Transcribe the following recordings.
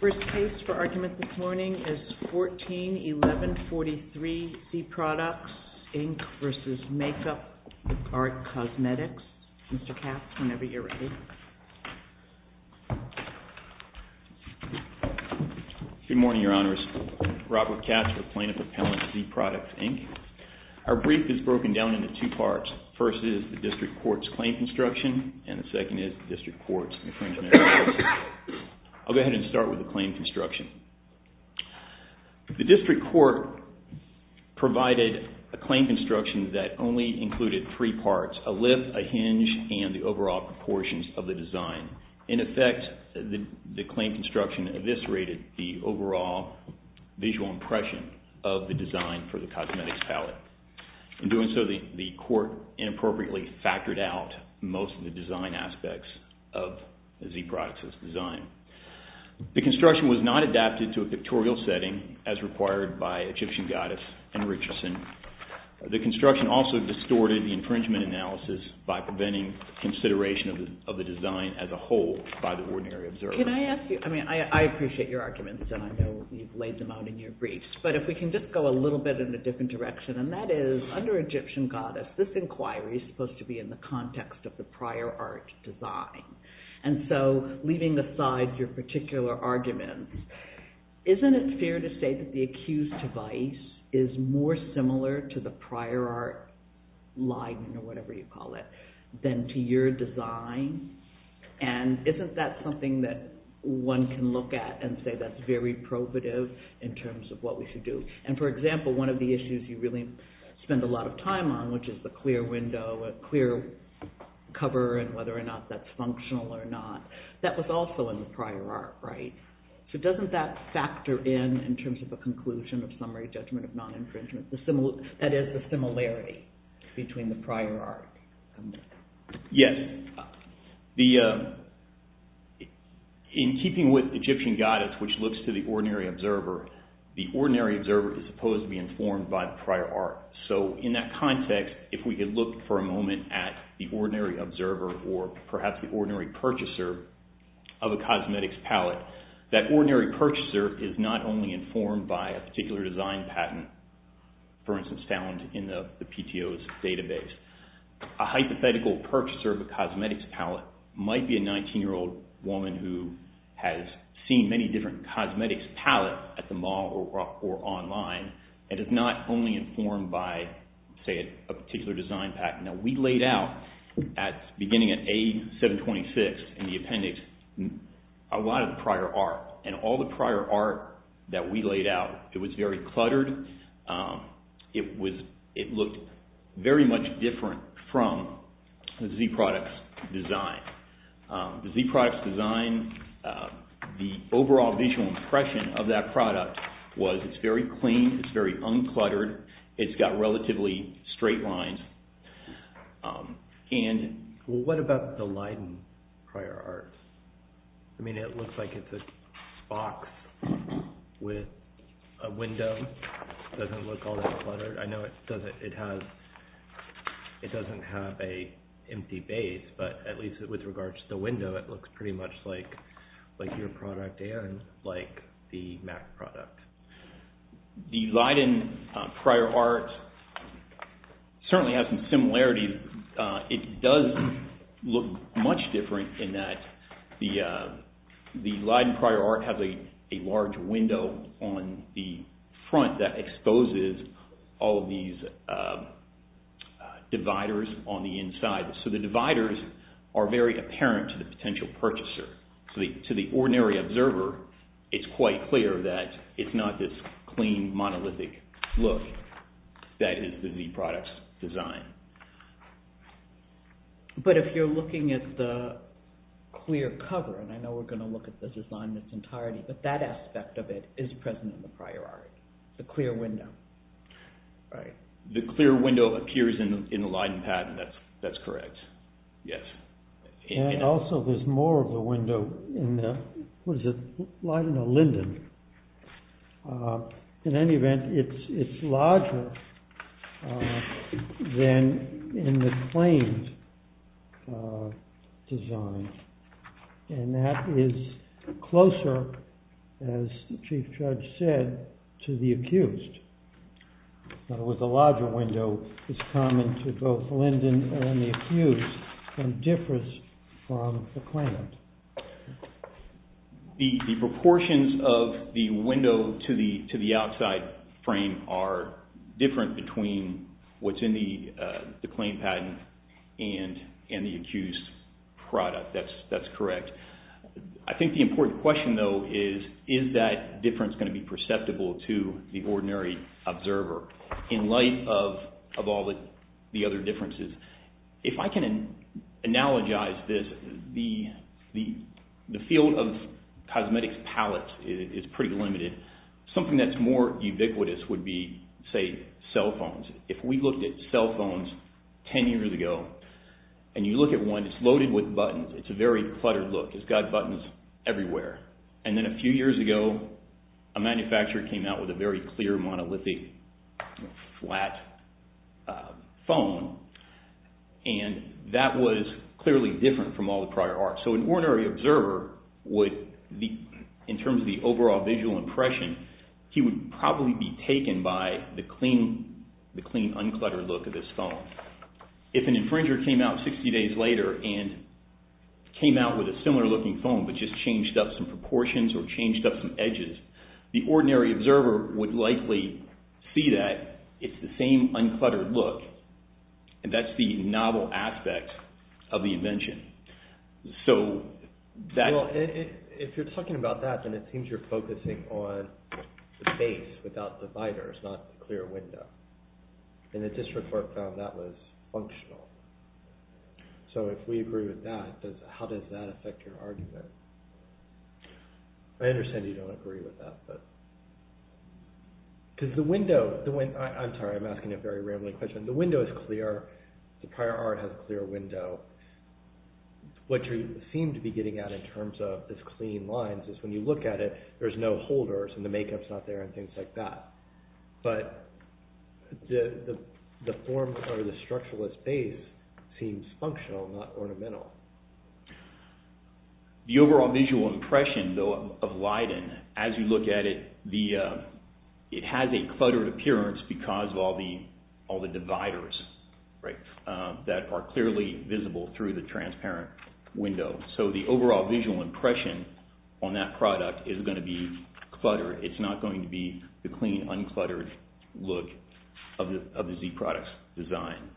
First case for argument this morning is 14-1143 Z Produx, Inc. v. Make-Up Art Cosmetics. Mr. Katz, whenever you're ready. Good morning, Your Honors. Robert Katz with Plaintiff Appellant Z Produx, Inc. Our brief is broken down into two parts. The first is the District Court's claim construction and the second is the District Court's infringement. I'll go ahead and start with the claim construction. The District Court provided a claim construction that only included three parts, a lift, a hinge, and the overall proportions of the design. In effect, the claim construction eviscerated the overall visual impression of the design for the cosmetics palette. In doing so, the Court inappropriately factored out most of the design aspects of the Z Produx's design. The construction was not adapted to a pictorial setting as required by Egyptian Goddess and Richardson. The construction also distorted the infringement analysis by preventing consideration of the design as a whole by the ordinary observer. Can I ask you, I mean, I appreciate your arguments and I know you've laid them out in your briefs, but if we can just go a little bit in a different direction, and that is, under Egyptian Goddess, this inquiry is supposed to be in the context of the prior art design. And so, leaving aside your particular arguments, isn't it fair to say that the accused device is more similar to the prior art line, or whatever you call it, than to your design? And isn't that something that one can look at and say that's very probative in terms of what we should do? And for example, one of the issues you really spend a lot of time on, which is the clear window, a clear cover, and whether or not that's functional or not, that was also in the prior art, right? So doesn't that factor in, in terms of a conclusion of summary judgment of non-infringement, that is, the similarity between the prior art? Yes. In keeping with Egyptian Goddess, which looks to the ordinary observer, the ordinary observer is supposed to be informed by the prior art. So in that context, if we could look for a moment at the ordinary observer, or perhaps the ordinary purchaser of a cosmetics palette, that ordinary purchaser is not only informed by a particular design patent, for instance, found in the PTO's database. A hypothetical purchaser of a cosmetics palette might be a 19-year-old woman who has seen many different cosmetics palettes at the mall or online, and is not only informed by, say, a particular design patent. Now we laid out, beginning at A726 in the appendix, a lot of the prior art. And all the prior art that we laid out, it was very cluttered. It looked very much different from the Z products design. The Z products design, the overall visual impression of that product was it's very clean, it's very uncluttered, it's got relatively straight lines. What about the Leiden prior art? I mean, it looks like it's a box with a window. It doesn't look all that cluttered. I know it doesn't have an empty base, but at least with regards to the window, it looks pretty much like your product and like the MAC product. The Leiden prior art certainly has some similarities. It does look much different in that the Leiden prior art has a large window on the front that exposes all of these dividers on the inside. So the dividers are very apparent to the potential purchaser. To the ordinary observer, it's quite clear that it's not this clean, monolithic look that is the Z products design. But if you're looking at the clear cover, and I know we're going to look at this design in its entirety, but that aspect of it is present in the prior art, the clear window. The clear window appears in the Leiden patent, that's correct, yes. And also there's more of the window in the Leiden or Linden. In any event, it's larger than in the claimed design, and that is closer, as the Chief Judge said, to the accused. In other words, the larger window is common to both Linden and the accused and differs from the claimed. The proportions of the window to the outside frame are different between what's in the claimed patent and the accused product. That's correct. I think the important question though is, is that difference going to be perceptible to the ordinary observer in light of all the other differences? If I can analogize this, the field of cosmetics palettes is pretty limited. Something that's more ubiquitous would be, say, cell phones. If we looked at cell phones 10 years ago, and you look at one, it's loaded with buttons. It's a very cluttered look. It's got buttons everywhere. And then a few years ago, a manufacturer came out with a very clear, monolithic, flat phone, and that was clearly different from all the prior art. So an ordinary observer would, in terms of the overall visual impression, he would probably be taken by the clean, uncluttered look of this phone. If an infringer came out 60 days later and came out with a similar looking phone but just changed up some proportions or changed up some edges, the ordinary observer would likely see that it's the same uncluttered look, and that's the novel aspect of the invention. Well, if you're talking about that, then it seems you're focusing on the face without dividers, not the clear window. And the district court found that was functional. So if we agree with that, how does that affect your argument? I understand you don't agree with that. I'm sorry, I'm asking a very rambling question. The window is clear. The prior art has a clear window. What you seem to be getting at in terms of these clean lines is when you look at it, there's no holders and the makeup's not there and things like that. But the form or the structuralist base seems functional, not ornamental. The overall visual impression of Leiden, as you look at it, it has a cluttered appearance because of all the dividers that are clearly visible through the transparent window. So the overall visual impression on that product is going to be cluttered. It's not going to be the clean, uncluttered look of the Z product's design.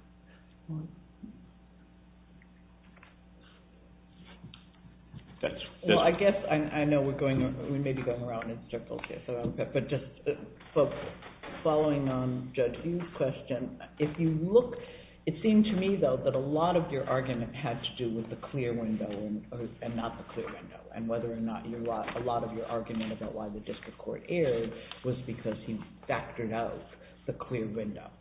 Well, I guess I know we may be going around in circles here. But just following on Judge Hughes' question, it seemed to me, though, that a lot of your argument had to do with the clear window and not the clear window. And whether or not a lot of your argument about why the district court erred was because he factored out the clear window.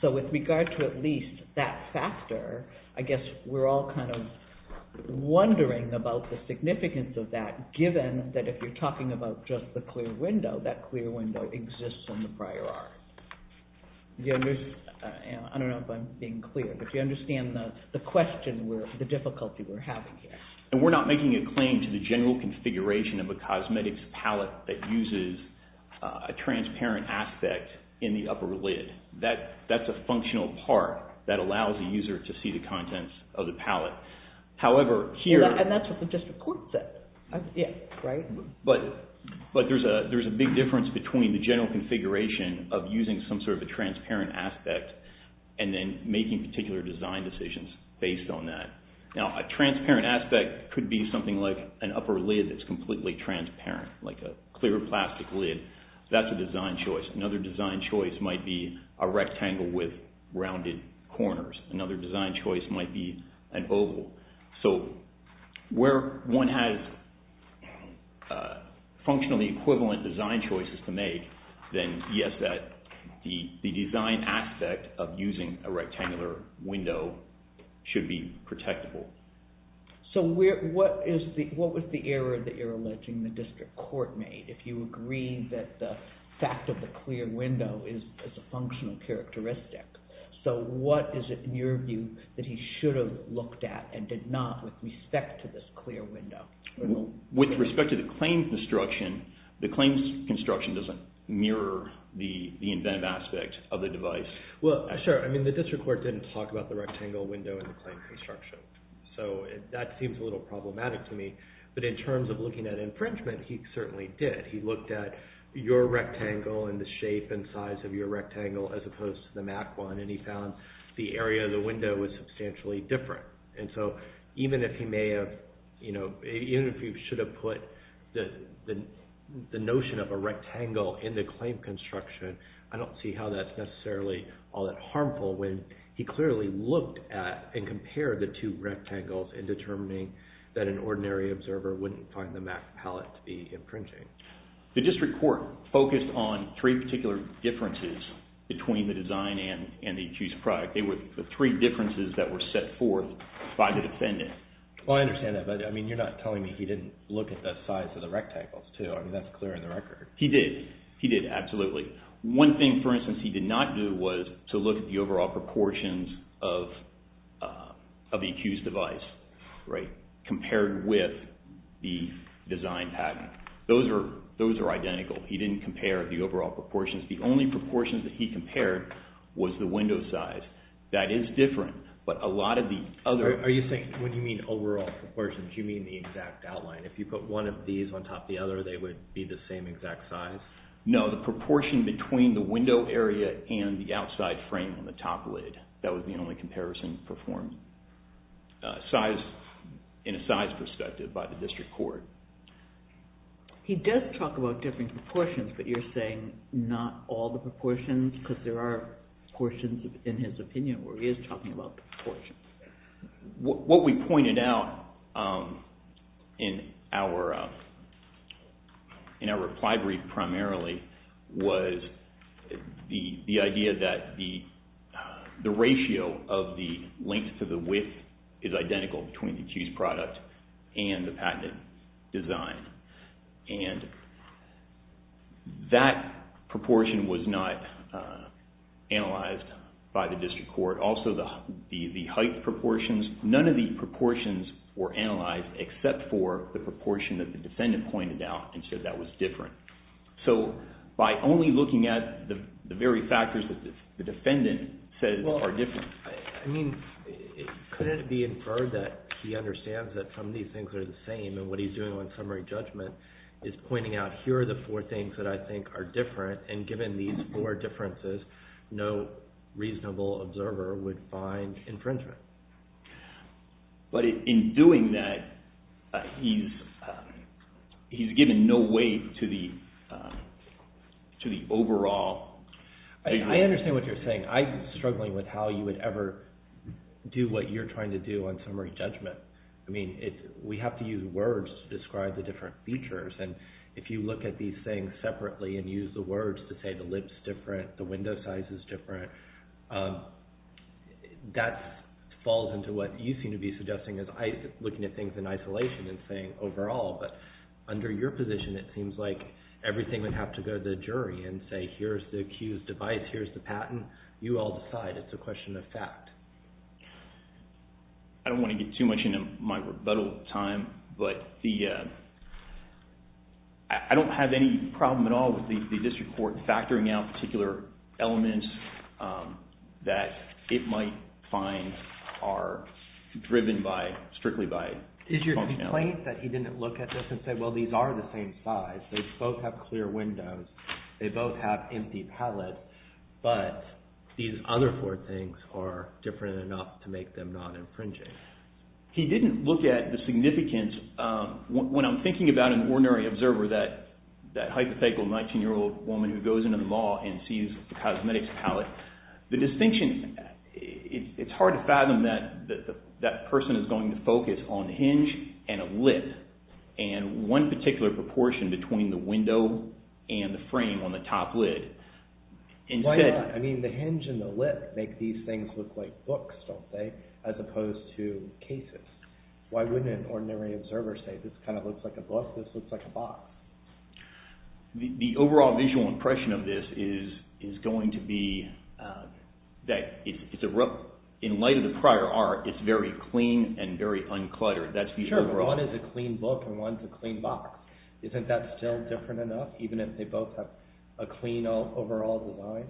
So with regard to at least that factor, I guess we're all kind of wondering about the significance of that, given that if you're talking about just the clear window, that clear window exists in the prior art. I don't know if I'm being clear, but do you understand the question, the difficulty we're having here? And we're not making a claim to the general configuration of a cosmetics palette that uses a transparent aspect in the upper lid. That's a functional part that allows the user to see the contents of the palette. However, here— And that's what the district court said, right? But there's a big difference between the general configuration of using some sort of a transparent aspect and then making particular design decisions based on that. Now, a transparent aspect could be something like an upper lid that's completely transparent, like a clear plastic lid. That's a design choice. Another design choice might be a rectangle with rounded corners. So where one has functionally equivalent design choices to make, then yes, the design aspect of using a rectangular window should be protectable. So what was the error that you're alleging the district court made, if you agree that the fact of the clear window is a functional characteristic? So what is it, in your view, that he should have looked at and did not with respect to this clear window? With respect to the claim construction, the claim construction doesn't mirror the inventive aspect of the device. Well, sure. I mean, the district court didn't talk about the rectangle window in the claim construction. So that seems a little problematic to me. But in terms of looking at infringement, he certainly did. He looked at your rectangle and the shape and size of your rectangle as opposed to the MAC one, and he found the area of the window was substantially different. And so even if he should have put the notion of a rectangle in the claim construction, I don't see how that's necessarily all that harmful, when he clearly looked at and compared the two rectangles in determining that an ordinary observer wouldn't find the MAC palette to be infringing. The district court focused on three particular differences between the design and the accused product. They were the three differences that were set forth by the defendant. Well, I understand that. But, I mean, you're not telling me he didn't look at the size of the rectangles, too. I mean, that's clear in the record. He did. He did, absolutely. One thing, for instance, he did not do was to look at the overall proportions of the accused device compared with the design pattern. Those are identical. He didn't compare the overall proportions. The only proportions that he compared was the window size. That is different, but a lot of the other... Are you saying when you mean overall proportions, you mean the exact outline? If you put one of these on top of the other, they would be the same exact size? No, the proportion between the window area and the outside frame on the top lid. That was the only comparison performed in a size perspective by the district court. He does talk about different proportions, but you're saying not all the proportions? Because there are portions in his opinion where he is talking about the proportions. What we pointed out in our reply brief primarily was the idea that the ratio of the length to the width is identical between the accused product and the patented design. That proportion was not analyzed by the district court. Also, the height proportions, none of the proportions were analyzed except for the proportion that the defendant pointed out and said that was different. By only looking at the very factors that the defendant said are different. Couldn't it be inferred that he understands that some of these things are the same and what he's doing on summary judgment is pointing out, here are the four things that I think are different, and given these four differences, no reasonable observer would find infringement. But in doing that, he's given no weight to the overall... I understand what you're saying. I'm struggling with how you would ever do what you're trying to do on summary judgment. We have to use words to describe the different features, and if you look at these things separately and use the words to say the lip's different, the window size is different, that falls into what you seem to be suggesting as looking at things in isolation and saying overall. But under your position, it seems like everything would have to go to the jury and say, here's the accused device, here's the patent. You all decide. It's a question of fact. I don't want to get too much into my rebuttal time, but I don't have any problem at all with the district court factoring out particular elements that it might find are driven strictly by functionality. Is your complaint that he didn't look at this and say, well, these are the same size. They both have clear windows. They both have empty pallets, but these other four things are different enough to make them non-infringing? He didn't look at the significance. When I'm thinking about an ordinary observer, that hypothetical 19-year-old woman who goes into the mall and sees a cosmetics pallet, the distinction, it's hard to fathom that that person is going to focus on hinge and a lip, and one particular proportion between the window and the frame on the top lid. Why not? I mean, the hinge and the lip make these things look like books, don't they, as opposed to cases. Why wouldn't an ordinary observer say, this kind of looks like a book, this looks like a box? The overall visual impression of this is going to be that in light of the prior art, it's very clean and very uncluttered. Sure, but one is a clean book and one is a clean box. Isn't that still different enough, even if they both have a clean overall design?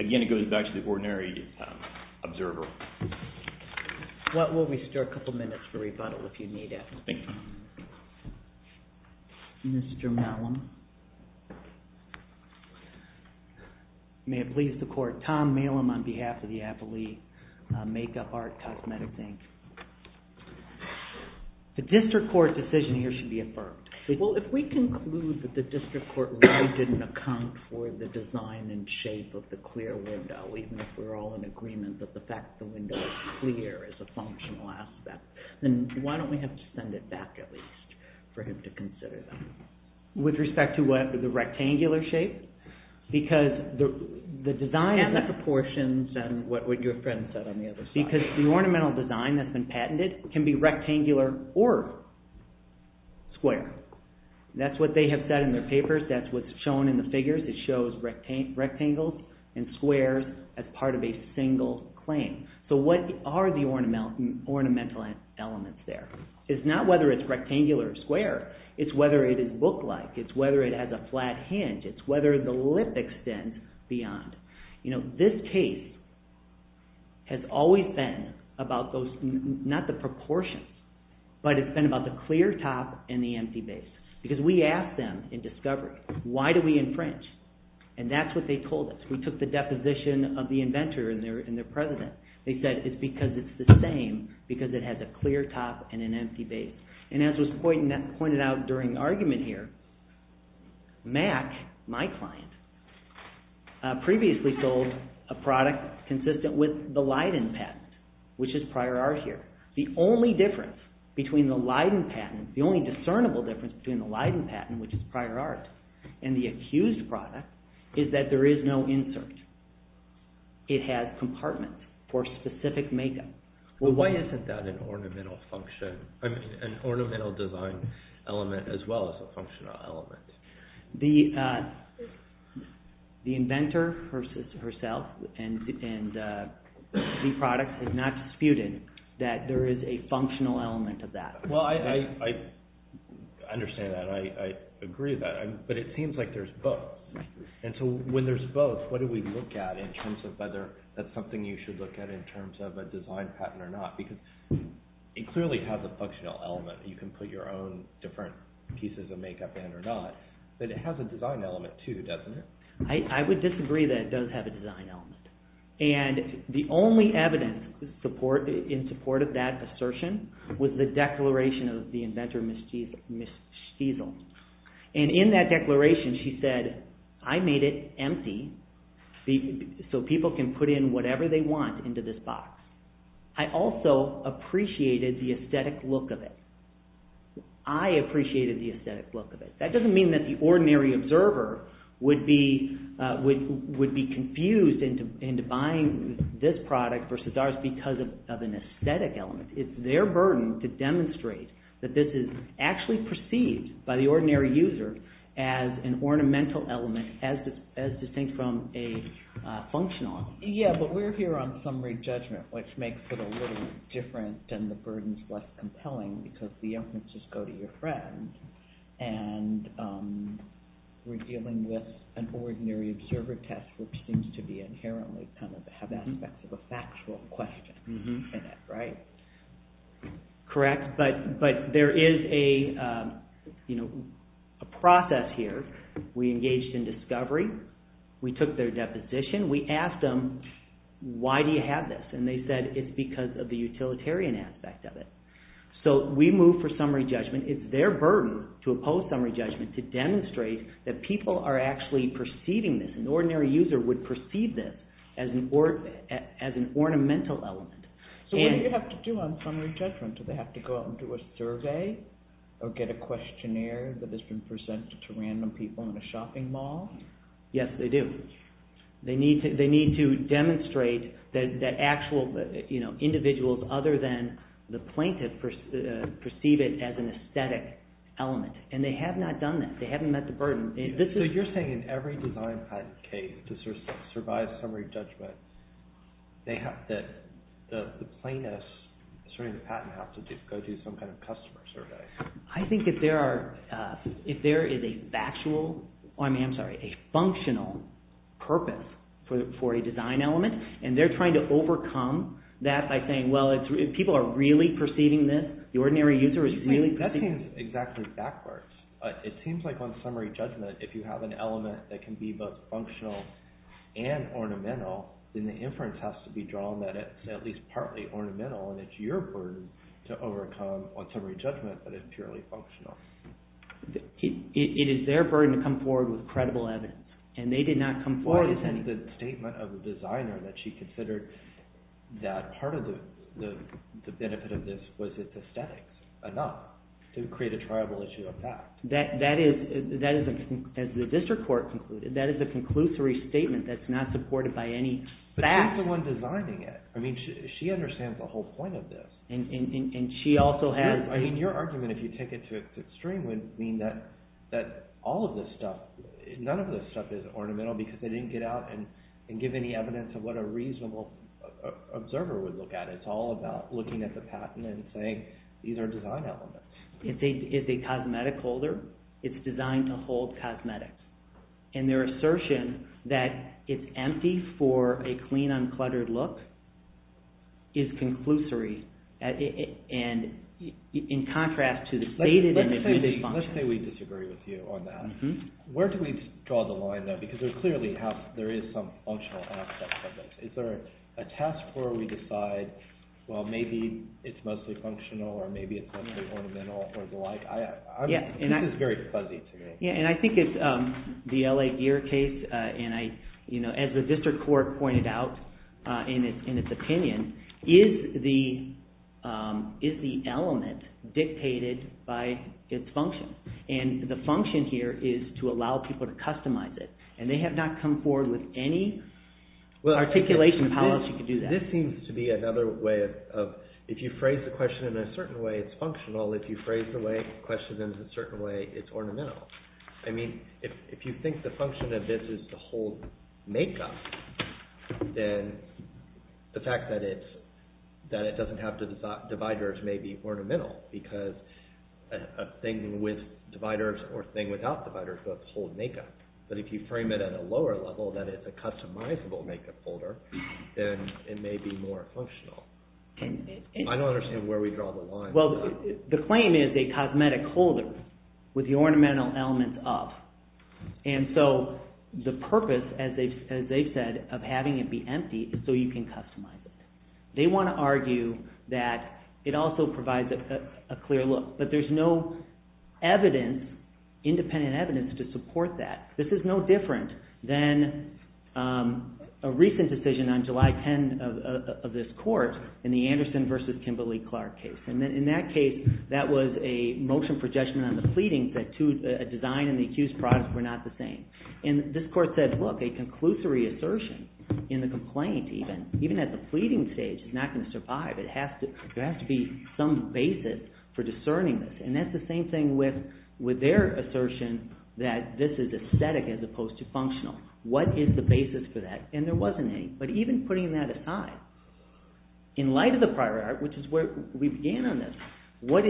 Again, it goes back to the ordinary observer. We'll restore a couple minutes for rebuttal if you need it. Thank you. Mr. Malum. May it please the Court, Tom Malum on behalf of the Affili Makeup, Art, Cosmetics, Inc. The district court decision here should be affirmed. Well, if we conclude that the district court really didn't account for the design and shape of the clear window, even if we're all in agreement that the fact that the window is clear is a functional aspect, then why don't we have to send it back, at least, for him to consider that? With respect to what, the rectangular shape? Because the design... And the proportions and what your friend said on the other side. Because the ornamental design that's been patented can be rectangular or square. That's what they have said in their papers, that's what's shown in the figures. It shows rectangles and squares as part of a single claim. So what are the ornamental elements there? It's not whether it's rectangular or square. It's whether it is book-like. It's whether it has a flat hinge. It's whether the lip extends beyond. This case has always been about those, not the proportions, but it's been about the clear top and the empty base. Because we asked them in discovery, why do we infringe? And that's what they told us. We took the deposition of the inventor and their president. They said it's because it's the same, because it has a clear top and an empty base. And as was pointed out during the argument here, Mack, my client, previously sold a product consistent with the Leiden patent, which is prior art here. The only difference between the Leiden patent, the only discernible difference between the Leiden patent, which is prior art, and the accused product is that there is no insert. It has compartments for specific makeup. Why isn't that an ornamental design element as well as a functional element? The inventor herself and the product have not disputed that there is a functional element of that. Well, I understand that. I agree with that. But it seems like there's both. And so when there's both, what do we look at in terms of whether that's something you should look at in terms of a design patent or not? Because it clearly has a functional element. You can put your own different pieces of makeup in or not. But it has a design element too, doesn't it? I would disagree that it does have a design element. And the only evidence in support of that assertion was the declaration of the inventor, Ms. Stiesel. And in that declaration she said, I made it empty so people can put in whatever they want into this box. I also appreciated the aesthetic look of it. I appreciated the aesthetic look of it. That doesn't mean that the ordinary observer would be confused into buying this product versus ours because of an aesthetic element. It's their burden to demonstrate that this is actually perceived by the ordinary user as an ornamental element as distinct from a functional element. Yeah, but we're here on summary judgment, which makes it a little different and the burden is less compelling because the inferences go to your friend. And we're dealing with an ordinary observer test which seems to be inherently kind of have aspects of a factual question in it, right? Correct, but there is a process here. We engaged in discovery. We took their deposition. We asked them, why do you have this? And they said it's because of the utilitarian aspect of it. So we moved for summary judgment. It's their burden to oppose summary judgment to demonstrate that people are actually perceiving this. An ordinary user would perceive this as an ornamental element. So what do you have to do on summary judgment? Do they have to go out and do a survey or get a questionnaire that has been presented to random people in a shopping mall? Yes, they do. They need to demonstrate that actual individuals other than the plaintiff perceive it as an aesthetic element. And they have not done that. They haven't met the burden. So you're saying in every design patent case to survive summary judgment, the plaintiffs, asserting the patent, have to go do some kind of customer survey. I think if there is a functional purpose for a design element, and they're trying to overcome that by saying, well, people are really perceiving this. The ordinary user is really perceiving this. That seems exactly backwards. It seems like on summary judgment, if you have an element that can be both functional and ornamental, then the inference has to be drawn that it's at least partly ornamental. And it's your burden to overcome on summary judgment that is purely functional. It is their burden to come forward with credible evidence. And they did not come forward with any. What is the statement of the designer that she considered that part of the benefit of this was its aesthetics enough to create a triable issue of fact? That is, as the district court concluded, that is a conclusory statement that's not supported by any fact. But who's the one designing it? I mean, she understands the whole point of this. And she also has… I mean, your argument, if you take it to its extreme, would mean that all of this stuff, none of this stuff is ornamental because they didn't get out and give any evidence of what a reasonable observer would look at. It's all about looking at the patent and saying, these are design elements. It's a cosmetic holder. It's designed to hold cosmetics. And their assertion that it's empty for a clean, uncluttered look is conclusory. And in contrast to the stated… Let's say we disagree with you on that. Where do we draw the line, though? Because there clearly is some functional aspect of this. Is there a task where we decide, well, maybe it's mostly functional or maybe it's mostly ornamental or the like? This is very fuzzy to me. Yeah, and I think it's the L.A. Gear case. And as the district court pointed out in its opinion, is the element dictated by its function? And the function here is to allow people to customize it. And they have not come forward with any articulation of how else you could do that. This seems to be another way of… If you phrase the question in a certain way, it's functional. If you phrase the question in a certain way, it's ornamental. I mean, if you think the function of this is to hold makeup, then the fact that it doesn't have dividers may be ornamental because a thing with dividers or a thing without dividers would hold makeup. But if you frame it at a lower level that it's a customizable makeup holder, then it may be more functional. I don't understand where we draw the line. Well, the claim is a cosmetic holder with the ornamental elements of. And so the purpose, as they've said, of having it be empty is so you can customize it. They want to argue that it also provides a clear look. But there's no evidence, independent evidence, to support that. This is no different than a recent decision on July 10 of this court in the Anderson v. Kimberly-Clark case. In that case, that was a motion for judgment on the pleading that a design and the accused products were not the same. And this court said, look, a conclusory assertion in the complaint even, even at the pleading stage, is not going to survive. There has to be some basis for discerning this. And that's the same thing with their assertion that this is aesthetic as opposed to functional. What is the basis for that? And there wasn't any. But even putting that aside, in light of the prior art, which is where we began on this, what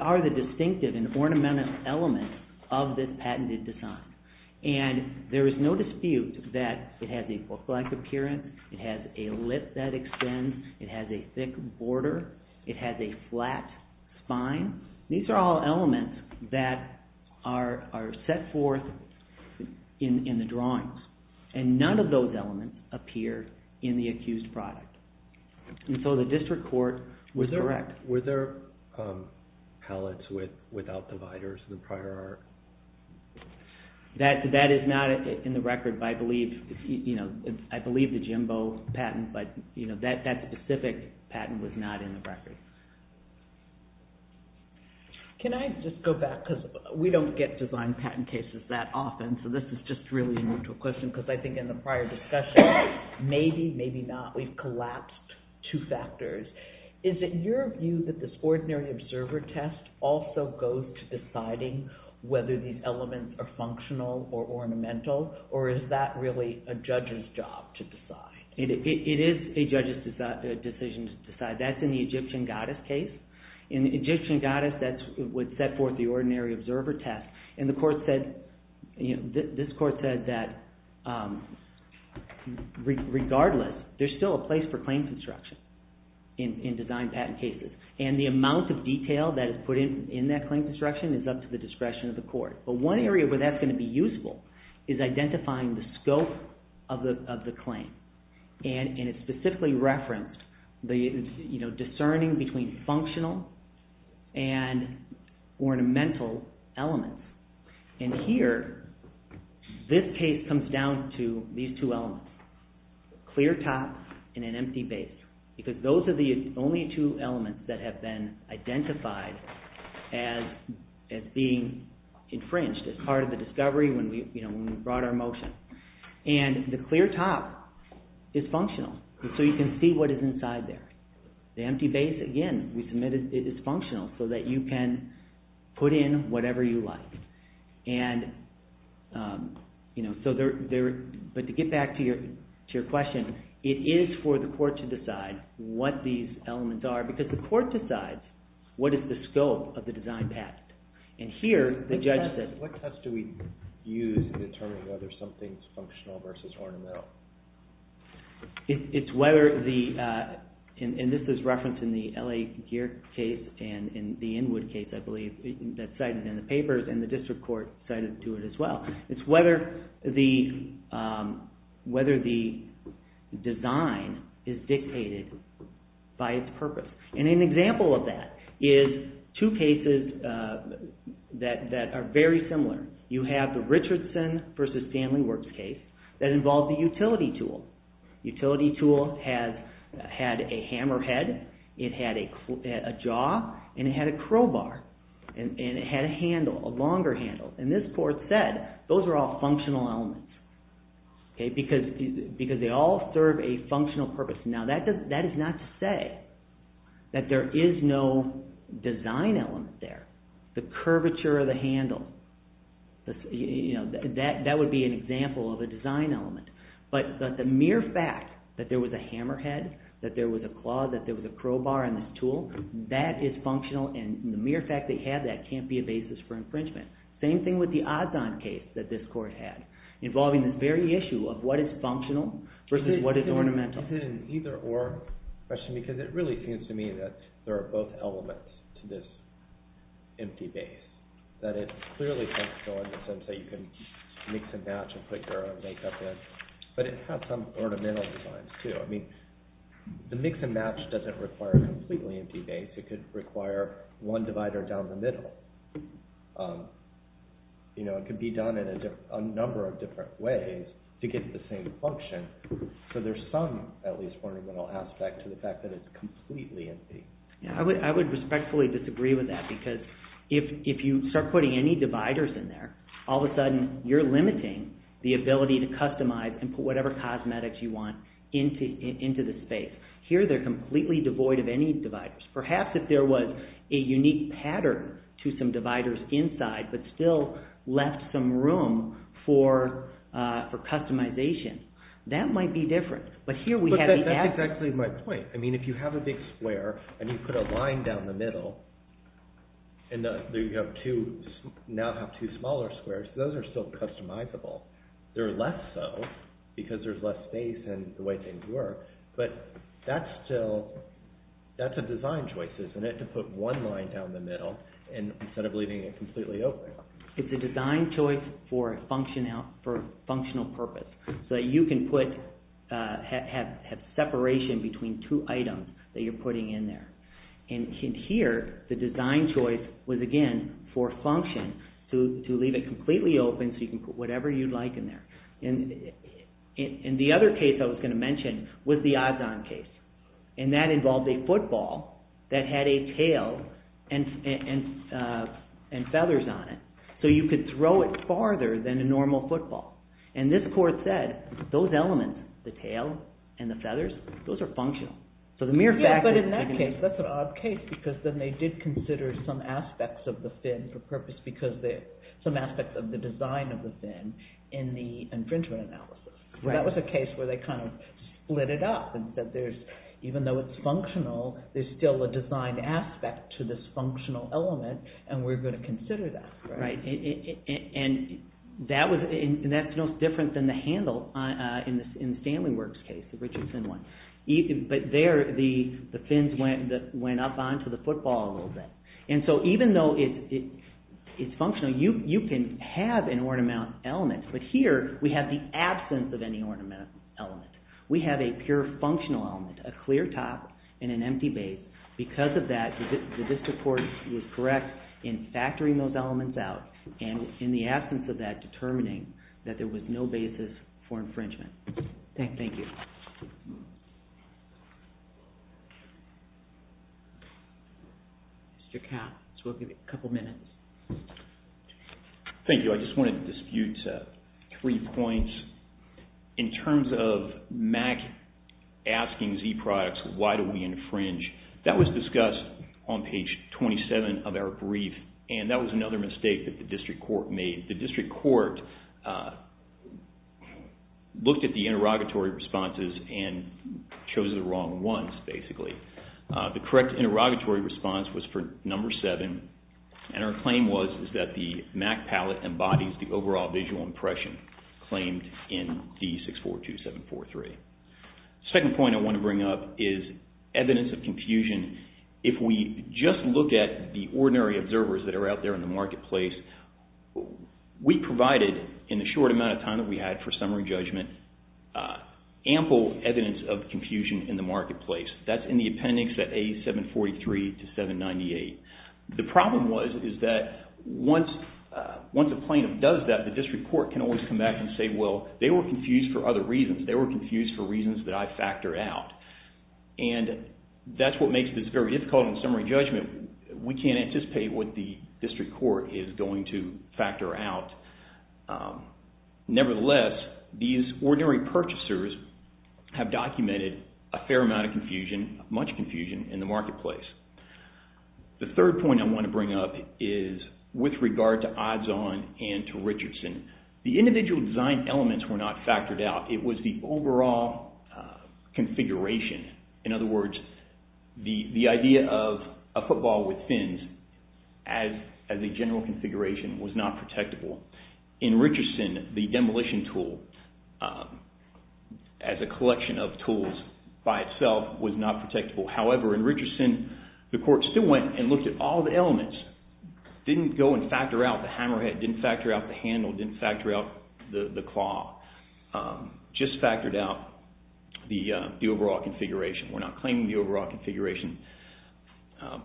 are the distinctive and ornamental elements of this patented design? And there is no dispute that it has a book-like appearance. It has a lip that extends. It has a thick border. It has a flat spine. These are all elements that are set forth in the drawings. And none of those elements appear in the accused product. And so the district court was correct. Were there palettes without dividers in the prior art? That is not in the record, but I believe the Jimbo patent. But that specific patent was not in the record. Can I just go back, because we don't get design patent cases that often, so this is just really a neutral question, because I think in the prior discussion, maybe, maybe not, we've collapsed two factors. Is it your view that this ordinary observer test also goes to deciding whether these elements are functional or ornamental, or is that really a judge's job to decide? It is a judge's decision to decide. That's in the Egyptian goddess case. In the Egyptian goddess, that's what set forth the ordinary observer test. And the court said, this court said that regardless, there's still a place for claim construction in design patent cases. And the amount of detail that is put in that claim construction is up to the discretion of the court. But one area where that's going to be useful is identifying the scope of the claim. And it specifically referenced the discerning between functional and ornamental elements. And here, this case comes down to these two elements, clear top and an empty base, because those are the only two elements that have been identified as being infringed as part of the discovery when we brought our motion. And the clear top is functional, so you can see what is inside there. The empty base, again, we submitted it is functional so that you can put in whatever you like. But to get back to your question, it is for the court to decide what these elements are because the court decides what is the scope of the design patent. What test do we use to determine whether something is functional versus ornamental? This is referenced in the L.A. Gear case and the Inwood case, I believe, that's cited in the papers and the district court cited to it as well. It's whether the design is dictated by its purpose. And an example of that is two cases that are very similar. You have the Richardson v. Stanley Works case that involved the utility tool. The utility tool had a hammerhead, it had a jaw, and it had a crowbar, and it had a handle, a longer handle. And this court said those are all functional elements because they all serve a functional purpose. Now, that is not to say that there is no design element there. The curvature of the handle, that would be an example of a design element. But the mere fact that there was a hammerhead, that there was a claw, that there was a crowbar in this tool, that is functional, and the mere fact that you have that can't be a basis for infringement. Same thing with the Ozond case that this court had, involving the very issue of what is functional versus what is ornamental. It's an either-or question because it really seems to me that there are both elements to this empty base, that it clearly can't go in the sense that you can mix and match and put your own makeup in. But it has some ornamental designs, too. I mean, the mix and match doesn't require a completely empty base. It could require one divider down the middle. It could be done in a number of different ways to get the same function. So there's some, at least, ornamental aspect to the fact that it's completely empty. I would respectfully disagree with that because if you start putting any dividers in there, all of a sudden you're limiting the ability to customize and put whatever cosmetics you want into the space. Here they're completely devoid of any dividers. Perhaps if there was a unique pattern to some dividers inside but still left some room for customization. That might be different. That's exactly my point. If you have a big square and you put a line down the middle and now have two smaller squares, those are still customizable. They're less so because there's less space and the way things work. But that's a design choice, isn't it? To put one line down the middle instead of leaving it completely open. It's a design choice for a functional purpose so that you can have separation between two items that you're putting in there. Here, the design choice was, again, for function to leave it completely open so you can put whatever you'd like in there. The other case I was going to mention was the Ozon case. That involved a football that had a tail and feathers on it so you could throw it farther than a normal football. This court said those elements, the tail and the feathers, those are functional. But in that case, that's an odd case because then they did consider some aspects of the fin for purpose because some aspects of the design of the fin in the infringement analysis. That was a case where they split it up and said, even though it's functional, there's still a design aspect to this functional element and we're going to consider that. And that's no different than the handle in the Stanley Works case, the Richardson one. But there, the fins went up onto the football a little bit. And so even though it's functional, you can have an ornamental element. But here, we have the absence of any ornamental element. We have a pure functional element, a clear top and an empty base. Because of that, the district court was correct in factoring those elements out and in the absence of that, determining that there was no basis for infringement. Thank you. Mr. Katz, we'll give you a couple minutes. Thank you. I just wanted to dispute three points. In terms of MAC asking Z products, why do we infringe? That was discussed on page 27 of our brief and that was another mistake that the district court made. The district court looked at the interrogatory responses and chose the wrong ones, basically. The correct interrogatory response was for number seven and our claim was that the MAC palette embodies the overall visual impression claimed in D-642-743. The second point I want to bring up is evidence of confusion. If we just look at the ordinary observers that are out there in the marketplace, we provided in the short amount of time that we had for summary judgment ample evidence of confusion in the marketplace. That's in the appendix at A-743-798. The problem was that once a plaintiff does that, the district court can always come back and say, well, they were confused for other reasons. They were confused for reasons that I factor out. And that's what makes this very difficult in summary judgment. We can't anticipate what the district court is going to factor out. Nevertheless, these ordinary purchasers have documented a fair amount of confusion, much confusion in the marketplace. The third point I want to bring up is with regard to odds-on and to Richardson. The individual design elements were not factored out. It was the overall configuration. In other words, the idea of a football with fins as a general configuration was not protectable. In Richardson, the demolition tool as a collection of tools by itself was not protectable. However, in Richardson, the court still went and looked at all the elements. Didn't go and factor out the hammerhead. Didn't factor out the handle. Didn't factor out the claw. Just factored out the overall configuration. We're not claiming the overall configuration.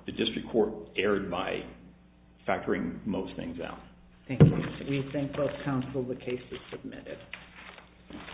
The district court erred by factoring most things out. Thank you. We thank both counsel. The case is submitted.